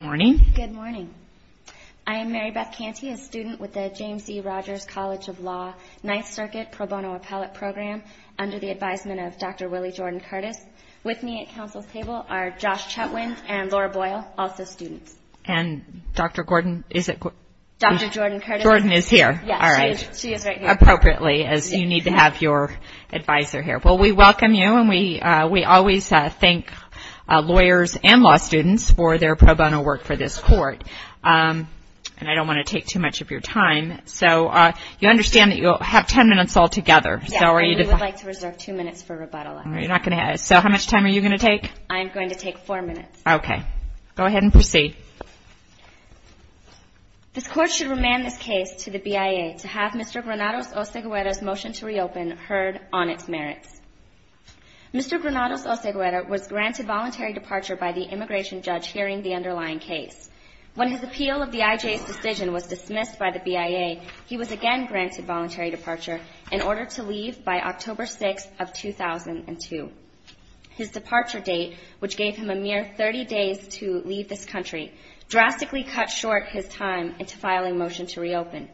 Good morning. I am Mary Beth Canty, a student with the James E. Rogers College of Law Ninth Circuit Pro Bono Appellate Program under the advisement of Dr. Willie Jordan Curtis. With me at council's table are Josh Chetwin and Laura Boyle, also students. And Dr. Jordan Curtis is here, appropriately, as you need to have your advisor here. Well, we welcome you, and we always thank lawyers and law students for their pro bono work for this court. And I don't want to take too much of your time. So you understand that you'll have ten minutes all together? Yes, and we would like to reserve two minutes for rebuttal, actually. So how much time are you going to take? I am going to take four minutes. Okay. Go ahead and proceed. This court should remand this case to the BIA to have Mr. Granados-Oseguera's motion to reopen heard on its merits. Mr. Granados-Oseguera was granted voluntary departure by the immigration judge hearing the underlying case. When his appeal of the IJ's decision was dismissed by the BIA, he was again granted voluntary departure in order to leave by October 6th of 2002. His departure date, which gave him a mere 30 days to leave this country, drastically cut short his time into filing motion to reopen.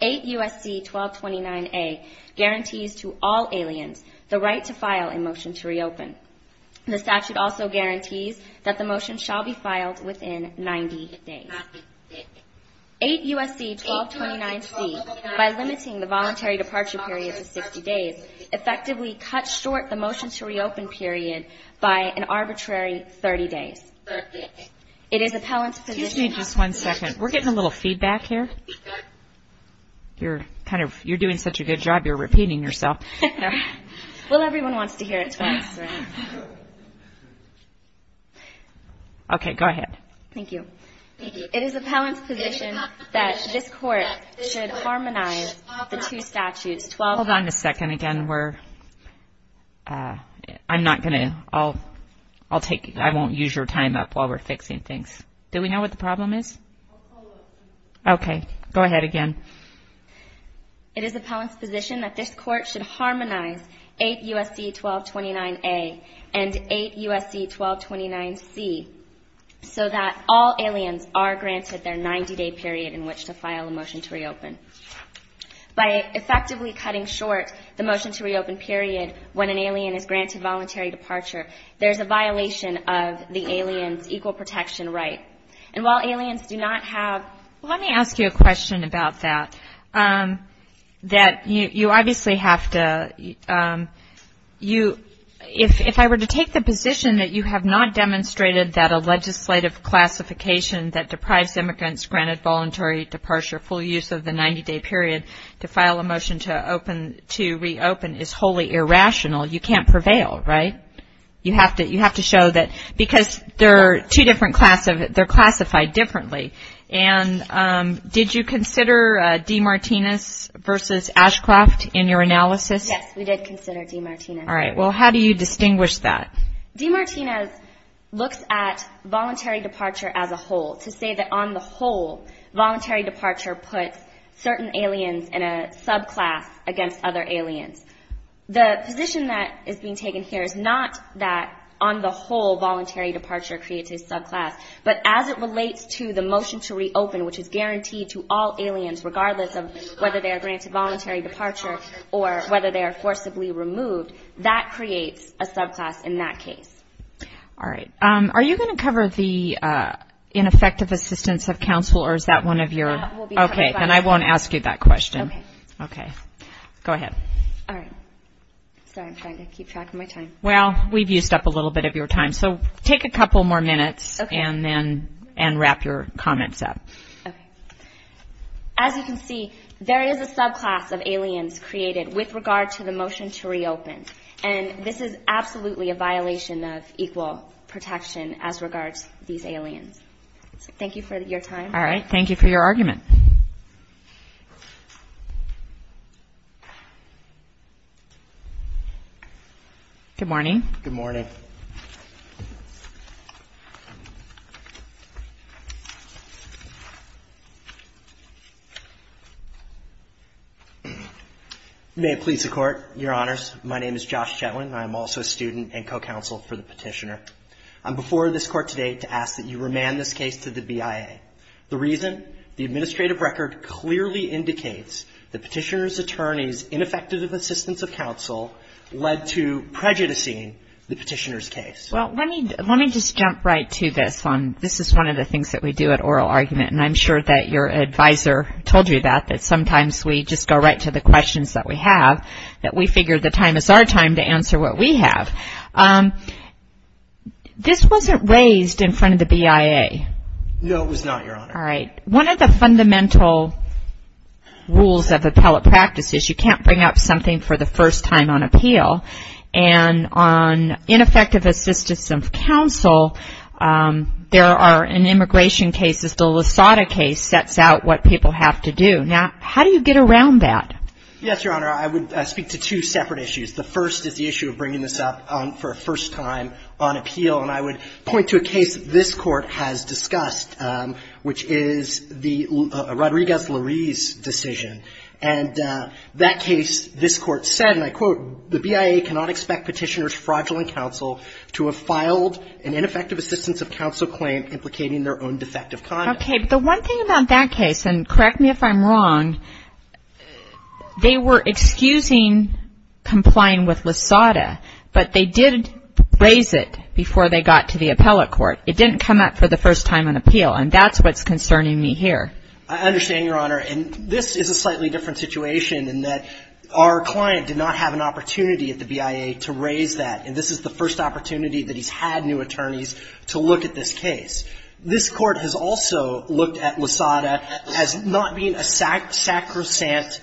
8 U.S.C. 1229A guarantees to all aliens the right to file a motion to reopen. The statute also guarantees that the motion shall be filed within 90 days. 8 U.S.C. 1229C, by limiting the voluntary departure period to 60 days, effectively cut short the motion to reopen period by an arbitrary 30 days. It is appellant's position... Excuse me just one second. We're getting a little feedback here. You're doing such a good job, you're repeating yourself. Well, everyone wants to hear it twice, right? Okay, go ahead. Thank you. It is appellant's position that this court should harmonize the two statutes... Hold on a second again. I won't use your time up while we're fixing things. Do we know what the problem is? Okay, go ahead again. It is appellant's position that this court should harmonize 8 U.S.C. 1229A and 8 U.S.C. 1229C so that all aliens are granted their 90 day period in which to file a motion to reopen period when an alien is granted voluntary departure. There's a violation of the alien's equal protection right. And while aliens do not have... Well, let me ask you a question about that. That you obviously have to... If I were to take the position that you have not demonstrated that a legislative classification that deprives an alien to reopen is wholly irrational, you can't prevail, right? You have to show that... Because they're classified differently. And did you consider Demartinus versus Ashcroft in your analysis? Yes, we did consider Demartinus. All right. Well, how do you distinguish that? Demartinus looks at voluntary departure as a whole to say that on the whole, voluntary departure puts certain aliens in a subclass against other aliens. The position that is being taken here is not that on the whole, voluntary departure creates a subclass, but as it relates to the motion to reopen, which is guaranteed to all aliens, regardless of whether they are granted voluntary departure or whether they are forcibly removed, that creates a subclass in that case. All right. Are you going to cover the ineffective assistance of counsel or is that one of your... That will be covered by... Go ahead. All right. Sorry, I'm trying to keep track of my time. Well, we've used up a little bit of your time, so take a couple more minutes and then wrap your comments up. Okay. As you can see, there is a subclass of aliens created with regard to the motion to reopen, and this is absolutely a violation of equal protection as regards these aliens. Thank you for your time. All right. Thank you for your argument. Good morning. Good morning. May it please the Court, Your Honors. My name is Josh Chetwin. I am also a student and co-counsel for the Petitioner. I'm before this Court today to ask that you remand this case to the BIA. The reason? The administrative record clearly indicates the Petitioner's attorney's ineffective assistance of counsel led to prejudicing the Petitioner's case. Well, let me just jump right to this one. This is one of the things that we do at Oral Argument, and I'm sure that your advisor told you that, that sometimes we just go right to the questions that we have, that we figure the time is our time to answer what we have. This wasn't raised in front of the BIA. No, it was not, Your Honor. All right. One of the fundamental rules of appellate practice is you can't bring up something for the first time on appeal. And on ineffective assistance of counsel, there are, in immigration cases, the LaSada case sets out what people have to do. Now, how do you get around that? Yes, Your Honor. I would speak to two separate issues. The first is the issue of bringing this up for a first time on appeal. And I would point to a case this Court has discussed, which is the Rodriguez-Larise decision. And that case, this Court said, and I quote, the BIA cannot expect Petitioner's fraudulent counsel to have filed an ineffective assistance of counsel claim implicating their own defective conduct. Okay. But the one thing about that case, and correct me if I'm wrong, they were excusing complying with LaSada, but they did raise it before they got to the appellate court. It didn't come up for the first time on appeal. And that's what's concerning me here. I understand, Your Honor. And this is a slightly different situation in that our client did not have an opportunity at the BIA to raise that. And this is the first opportunity that he's had new attorneys to look at this case. This Court has also looked at LaSada as not being a sacrosanct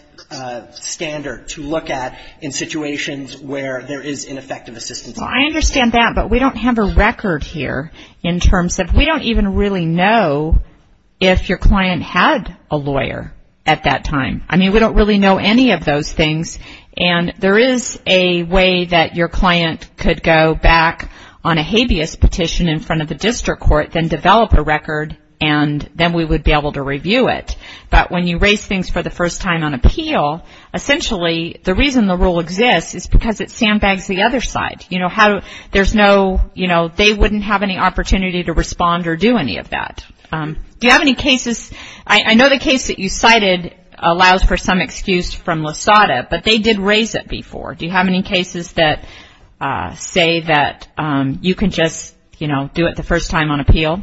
standard to look at in situations where there is ineffective assistance of counsel. Well, I understand that, but we don't have a record here in terms of we don't even really know if your client had a lawyer at that time. I mean, we don't really know any of those things. And there is a way that your client could go back on a habeas petition in front of the district court, then develop a record, and then we would be able to review it. But when you raise things for the first time on appeal, essentially the reason the rule exists is because it sandbags the other side. You know, there's no, you know, they wouldn't have any opportunity to respond or do any of that. Do you have any cases, I know the case that you cited allows for some excuse from LaSada, but they did raise it before. Do you have any cases that say that you can just, you know, do it the first time on appeal?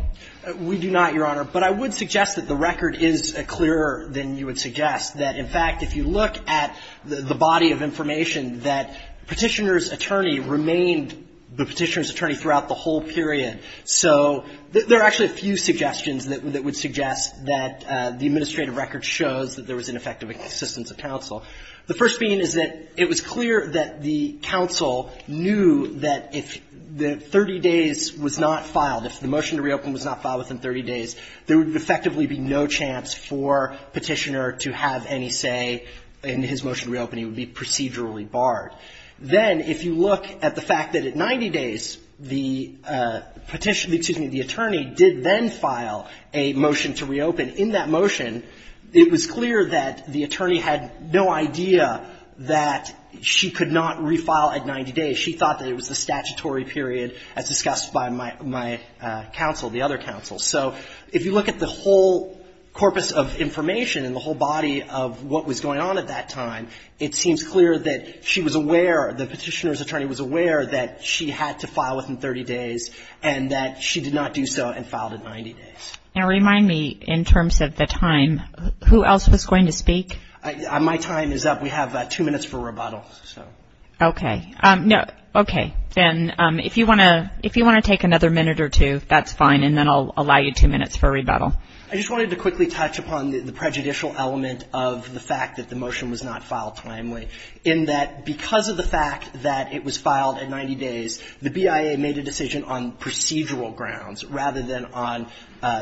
We do not, Your Honor. But I would suggest that the record is clearer than you would suggest, that in fact, if you look at the body of information, that Petitioner's attorney remained the Petitioner's attorney throughout the whole period. So there are actually a few suggestions that would suggest that the administrative record shows that there was ineffective assistance of counsel. The first being is that it was clear that the counsel knew that if the 30 days was not filed within 30 days, there would effectively be no chance for Petitioner to have any say in his motion to reopen. He would be procedurally barred. Then if you look at the fact that at 90 days the Petitioner, excuse me, the attorney did then file a motion to reopen, in that motion it was clear that the attorney had no idea that she could not refile at 90 days. She thought that it was the statutory period as discussed by my counsel, the other counsel. So if you look at the whole corpus of information and the whole body of what was going on at that time, it seems clear that she was aware, the Petitioner's attorney was aware that she had to file within 30 days and that she did not do so and filed at 90 days. And remind me in terms of the time, who else was going to speak? My time is up. We have two minutes for rebuttal. Okay. No. Okay. Then if you want to take another minute or two, that's fine and then I'll allow you two minutes for rebuttal. I just wanted to quickly touch upon the prejudicial element of the fact that the motion was not filed timely in that because of the fact that it was filed at 90 days, the BIA made a decision on procedural grounds rather than on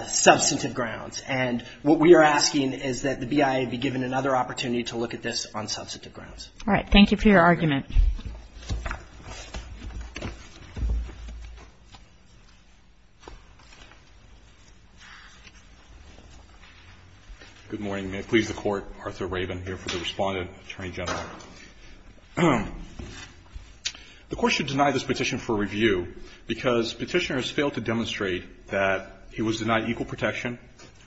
substantive grounds. And what we are asking is that the BIA be given another opportunity to look at this on substantive grounds. All right. Thank you for your argument. Good morning. May it please the Court. Arthur Rabin here for the Respondent, Attorney General. The Court should deny this petition for review because Petitioner has failed to demonstrate that he was denied equal protection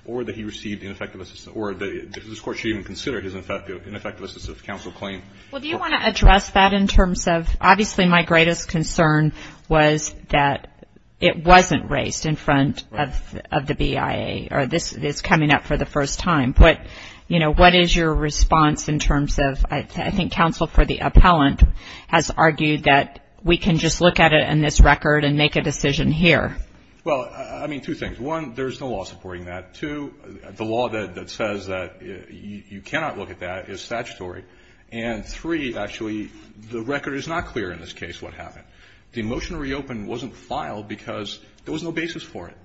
or that he received ineffective assistance or this Court should even consider it as ineffective assistance if counsel claim. Well, do you want to address that in terms of obviously my greatest concern was that it wasn't raised in front of the BIA or this is coming up for the first time. But, you know, what is your response in terms of I think counsel for the appellant has argued that we can just look at it in this record and make a decision here. Well, I mean, two things. One, there is no law supporting that. Two, the law that says that you cannot look at that is statutory. And three, actually, the record is not clear in this case what happened. The motion to reopen wasn't filed because there was no basis for it.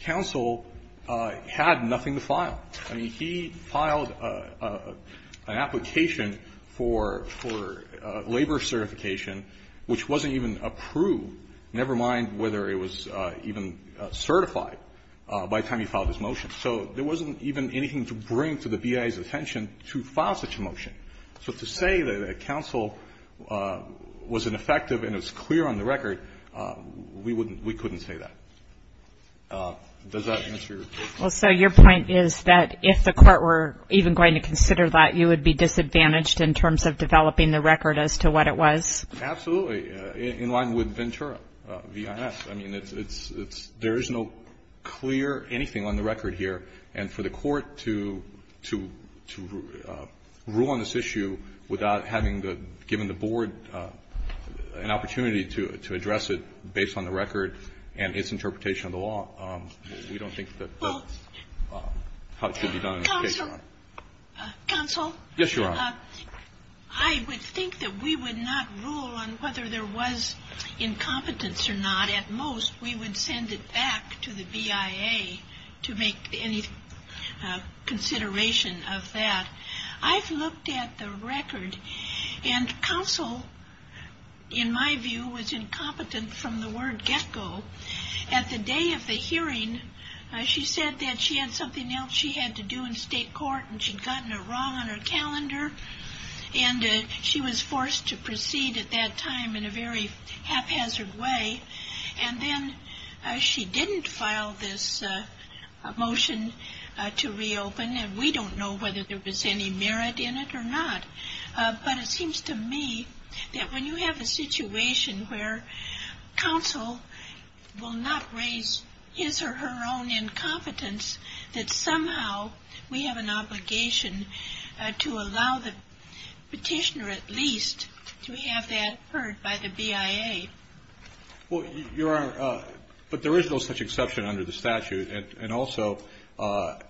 Counsel had nothing to file. I mean, he filed an application for labor certification which wasn't even approved, never mind whether it was even certified by the time he filed his motion. So there wasn't even anything to bring to the BIA's attention to file such a motion. So to say that counsel was ineffective and it was clear on the record, we wouldn't we couldn't say that. Does that answer your question? Well, so your point is that if the Court were even going to consider that, you would be disadvantaged in terms of developing the record as to what it was? Absolutely. In line with Ventura v. INS. I mean, there is no clear anything on the record here. And for the Court to rule on this issue without having given the Board an opportunity to address it based on the record and its interpretation of the law, we don't think that that's how it should be done. Counsel. Counsel. Yes, Your Honor. I would think that we would not rule on whether there was incompetence or not. At most, we would send it back to the BIA to make any consideration of that. I've looked at the record, and counsel, in my view, was incompetent from the word get-go. At the day of the hearing, she said that she had something else she had to do in And she was forced to proceed at that time in a very haphazard way. And then she didn't file this motion to reopen. And we don't know whether there was any merit in it or not. But it seems to me that when you have a situation where counsel will not raise his or her own incompetence, that somehow we have an obligation to allow the petitioner at least to have that heard by the BIA. Well, Your Honor, but there is no such exception under the statute. And also,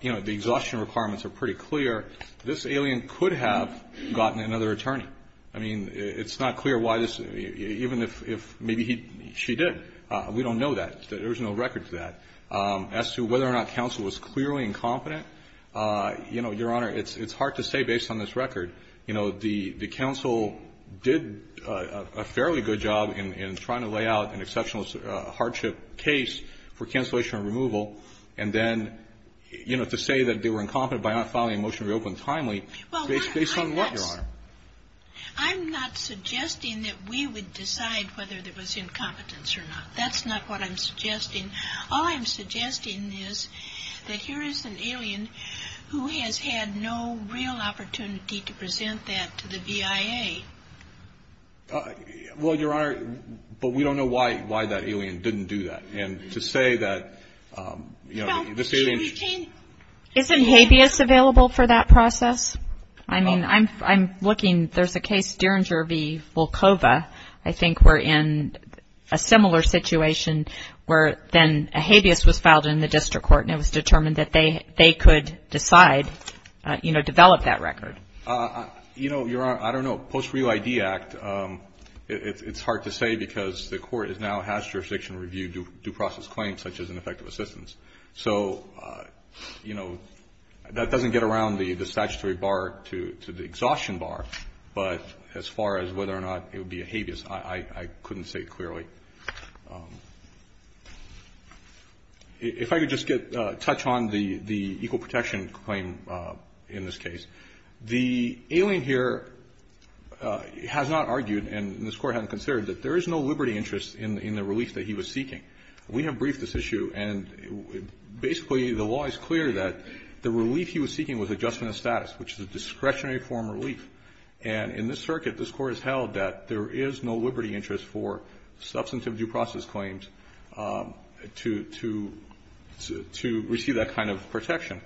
you know, the exhaustion requirements are pretty clear. This alien could have gotten another attorney. I mean, it's not clear why this, even if maybe she did. We don't know that. There's no record to that. As to whether or not counsel was clearly incompetent, you know, Your Honor, it's hard to say based on this record. You know, the counsel did a fairly good job in trying to lay out an exceptional hardship case for cancellation and removal, and then, you know, to say that they were incompetent by not filing a motion to reopen timely, based on what, Your Honor? I'm not suggesting that we would decide whether there was incompetence or not. That's not what I'm suggesting. All I'm suggesting is that here is an alien who has had no real opportunity to present that to the BIA. Well, Your Honor, but we don't know why that alien didn't do that. And to say that, you know, this alien ---- Isn't habeas available for that process? I mean, I'm looking. There's a case, Dieringer v. Volkova. I think we're in a similar situation where then a habeas was filed in the district court and it was determined that they could decide, you know, develop that record. You know, Your Honor, I don't know. Post-Reel ID Act, it's hard to say because the court now has jurisdiction to review due process claims, such as ineffective assistance. So, you know, that doesn't get around the statutory bar to the exhaustion bar, but as far as whether or not it would be a habeas, I couldn't say clearly. If I could just touch on the equal protection claim in this case. The alien here has not argued, and this Court hasn't considered, that there is no liberty interest in the relief that he was seeking. We have briefed this issue, and basically the law is clear that the relief he was seeking was adjustment of status, which is a discretionary form of relief. And in this circuit, this Court has held that there is no liberty interest for substantive due process claims to receive that kind of protection.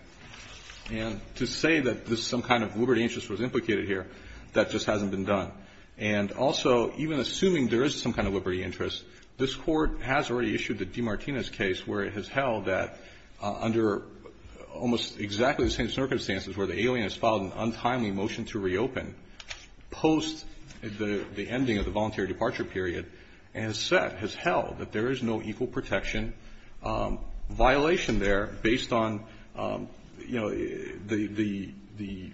And to say that this is some kind of liberty interest was implicated here, that just hasn't been done. And also, even assuming there is some kind of liberty interest, this Court has already issued the DeMartinis case where it has held that under almost exactly the same circumstances where the alien has filed an untimely motion to reopen post the ending of the voluntary departure period, and has held that there is no equal protection violation there based on, you know, the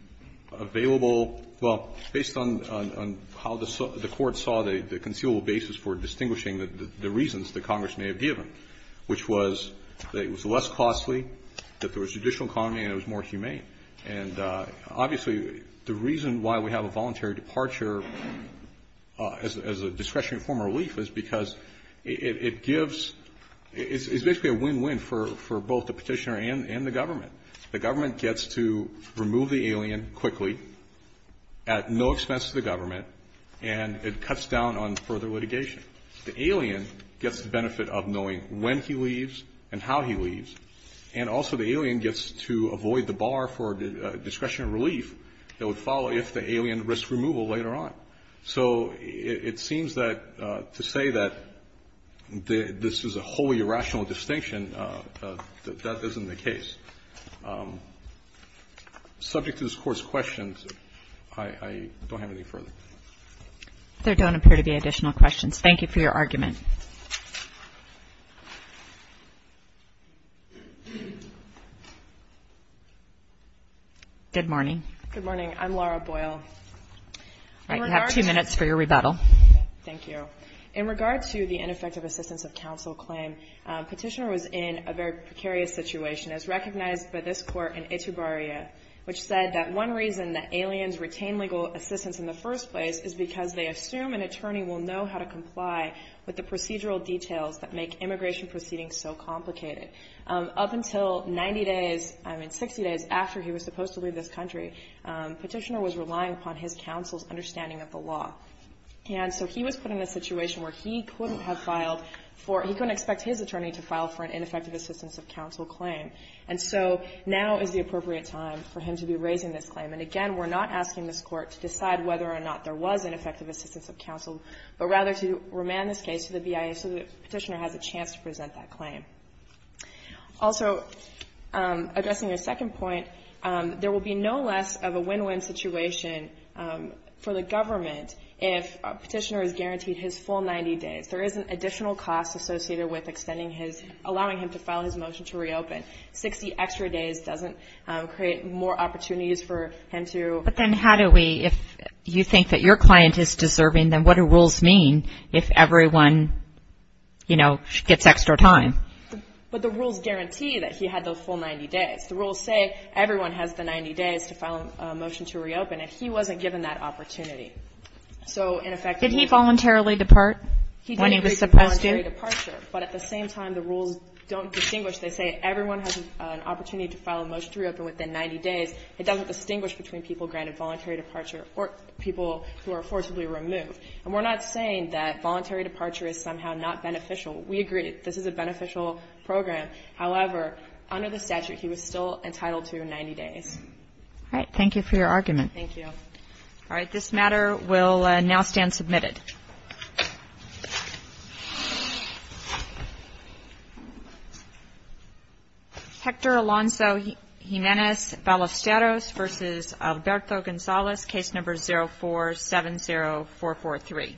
available – well, based on how the Court saw the conceivable basis for distinguishing the reasons that Congress may have given, which was that it was less costly, that there was a judicial economy, and it was more humane. And obviously, the reason why we have a voluntary departure as a discretionary form of relief is because it gives – it's basically a win-win for both the Petitioner and the government. The government gets to remove the alien quickly at no expense to the government, and it cuts down on further litigation. The alien gets the benefit of knowing when he leaves and how he leaves. And also, the alien gets to avoid the bar for discretionary relief that would follow if the alien risked removal later on. So it seems that to say that this is a wholly irrational distinction, that isn't the case. Subject to this Court's questions, I don't have anything further. There don't appear to be additional questions. Thank you for your argument. Good morning. Good morning. I'm Laura Boyle. You have two minutes for your rebuttal. Thank you. In regard to the ineffective assistance of counsel claim, Petitioner was in a very precarious situation, as recognized by this Court in Itubaria, which said that one reason that aliens retain legal assistance in the first place is because they assume an attorney will know how to comply with the procedural details that make immigration proceedings so complicated. Up until 90 days, I mean 60 days, after he was supposed to leave this country, Petitioner was relying upon his counsel's understanding of the law. And so he was put in a situation where he couldn't have filed for, he couldn't expect his attorney to file for an ineffective assistance of counsel claim. And so now is the appropriate time for him to be raising this claim. And again, we're not asking this Court to decide whether or not there was an effective assistance of counsel, but rather to remand this case to the BIA so that Petitioner has a chance to present that claim. Also, addressing your second point, there will be no less of a win-win situation for the government if Petitioner is guaranteed his full 90 days. There is an additional cost associated with extending his, allowing him to file his motion to reopen. 60 extra days doesn't create more opportunities for him to. But then how do we, if you think that your client is deserving, then what do rules mean if everyone, you know, gets extra time? But the rules guarantee that he had those full 90 days. The rules say everyone has the 90 days to file a motion to reopen, and he wasn't given that opportunity. So in effect. Did he voluntarily depart when he was supposed to? He didn't agree to voluntary departure. But at the same time, the rules don't distinguish. They say everyone has an opportunity to file a motion to reopen within 90 days. It doesn't distinguish between people granted voluntary departure or people who are forcibly removed. And we're not saying that voluntary departure is somehow not beneficial. We agree this is a beneficial program. However, under the statute, he was still entitled to 90 days. All right. Thank you for your argument. Thank you. All right. This matter will now stand submitted. Hector Alonso Jimenez-Balesteros v. Alberto Gonzalez, case number 0470443.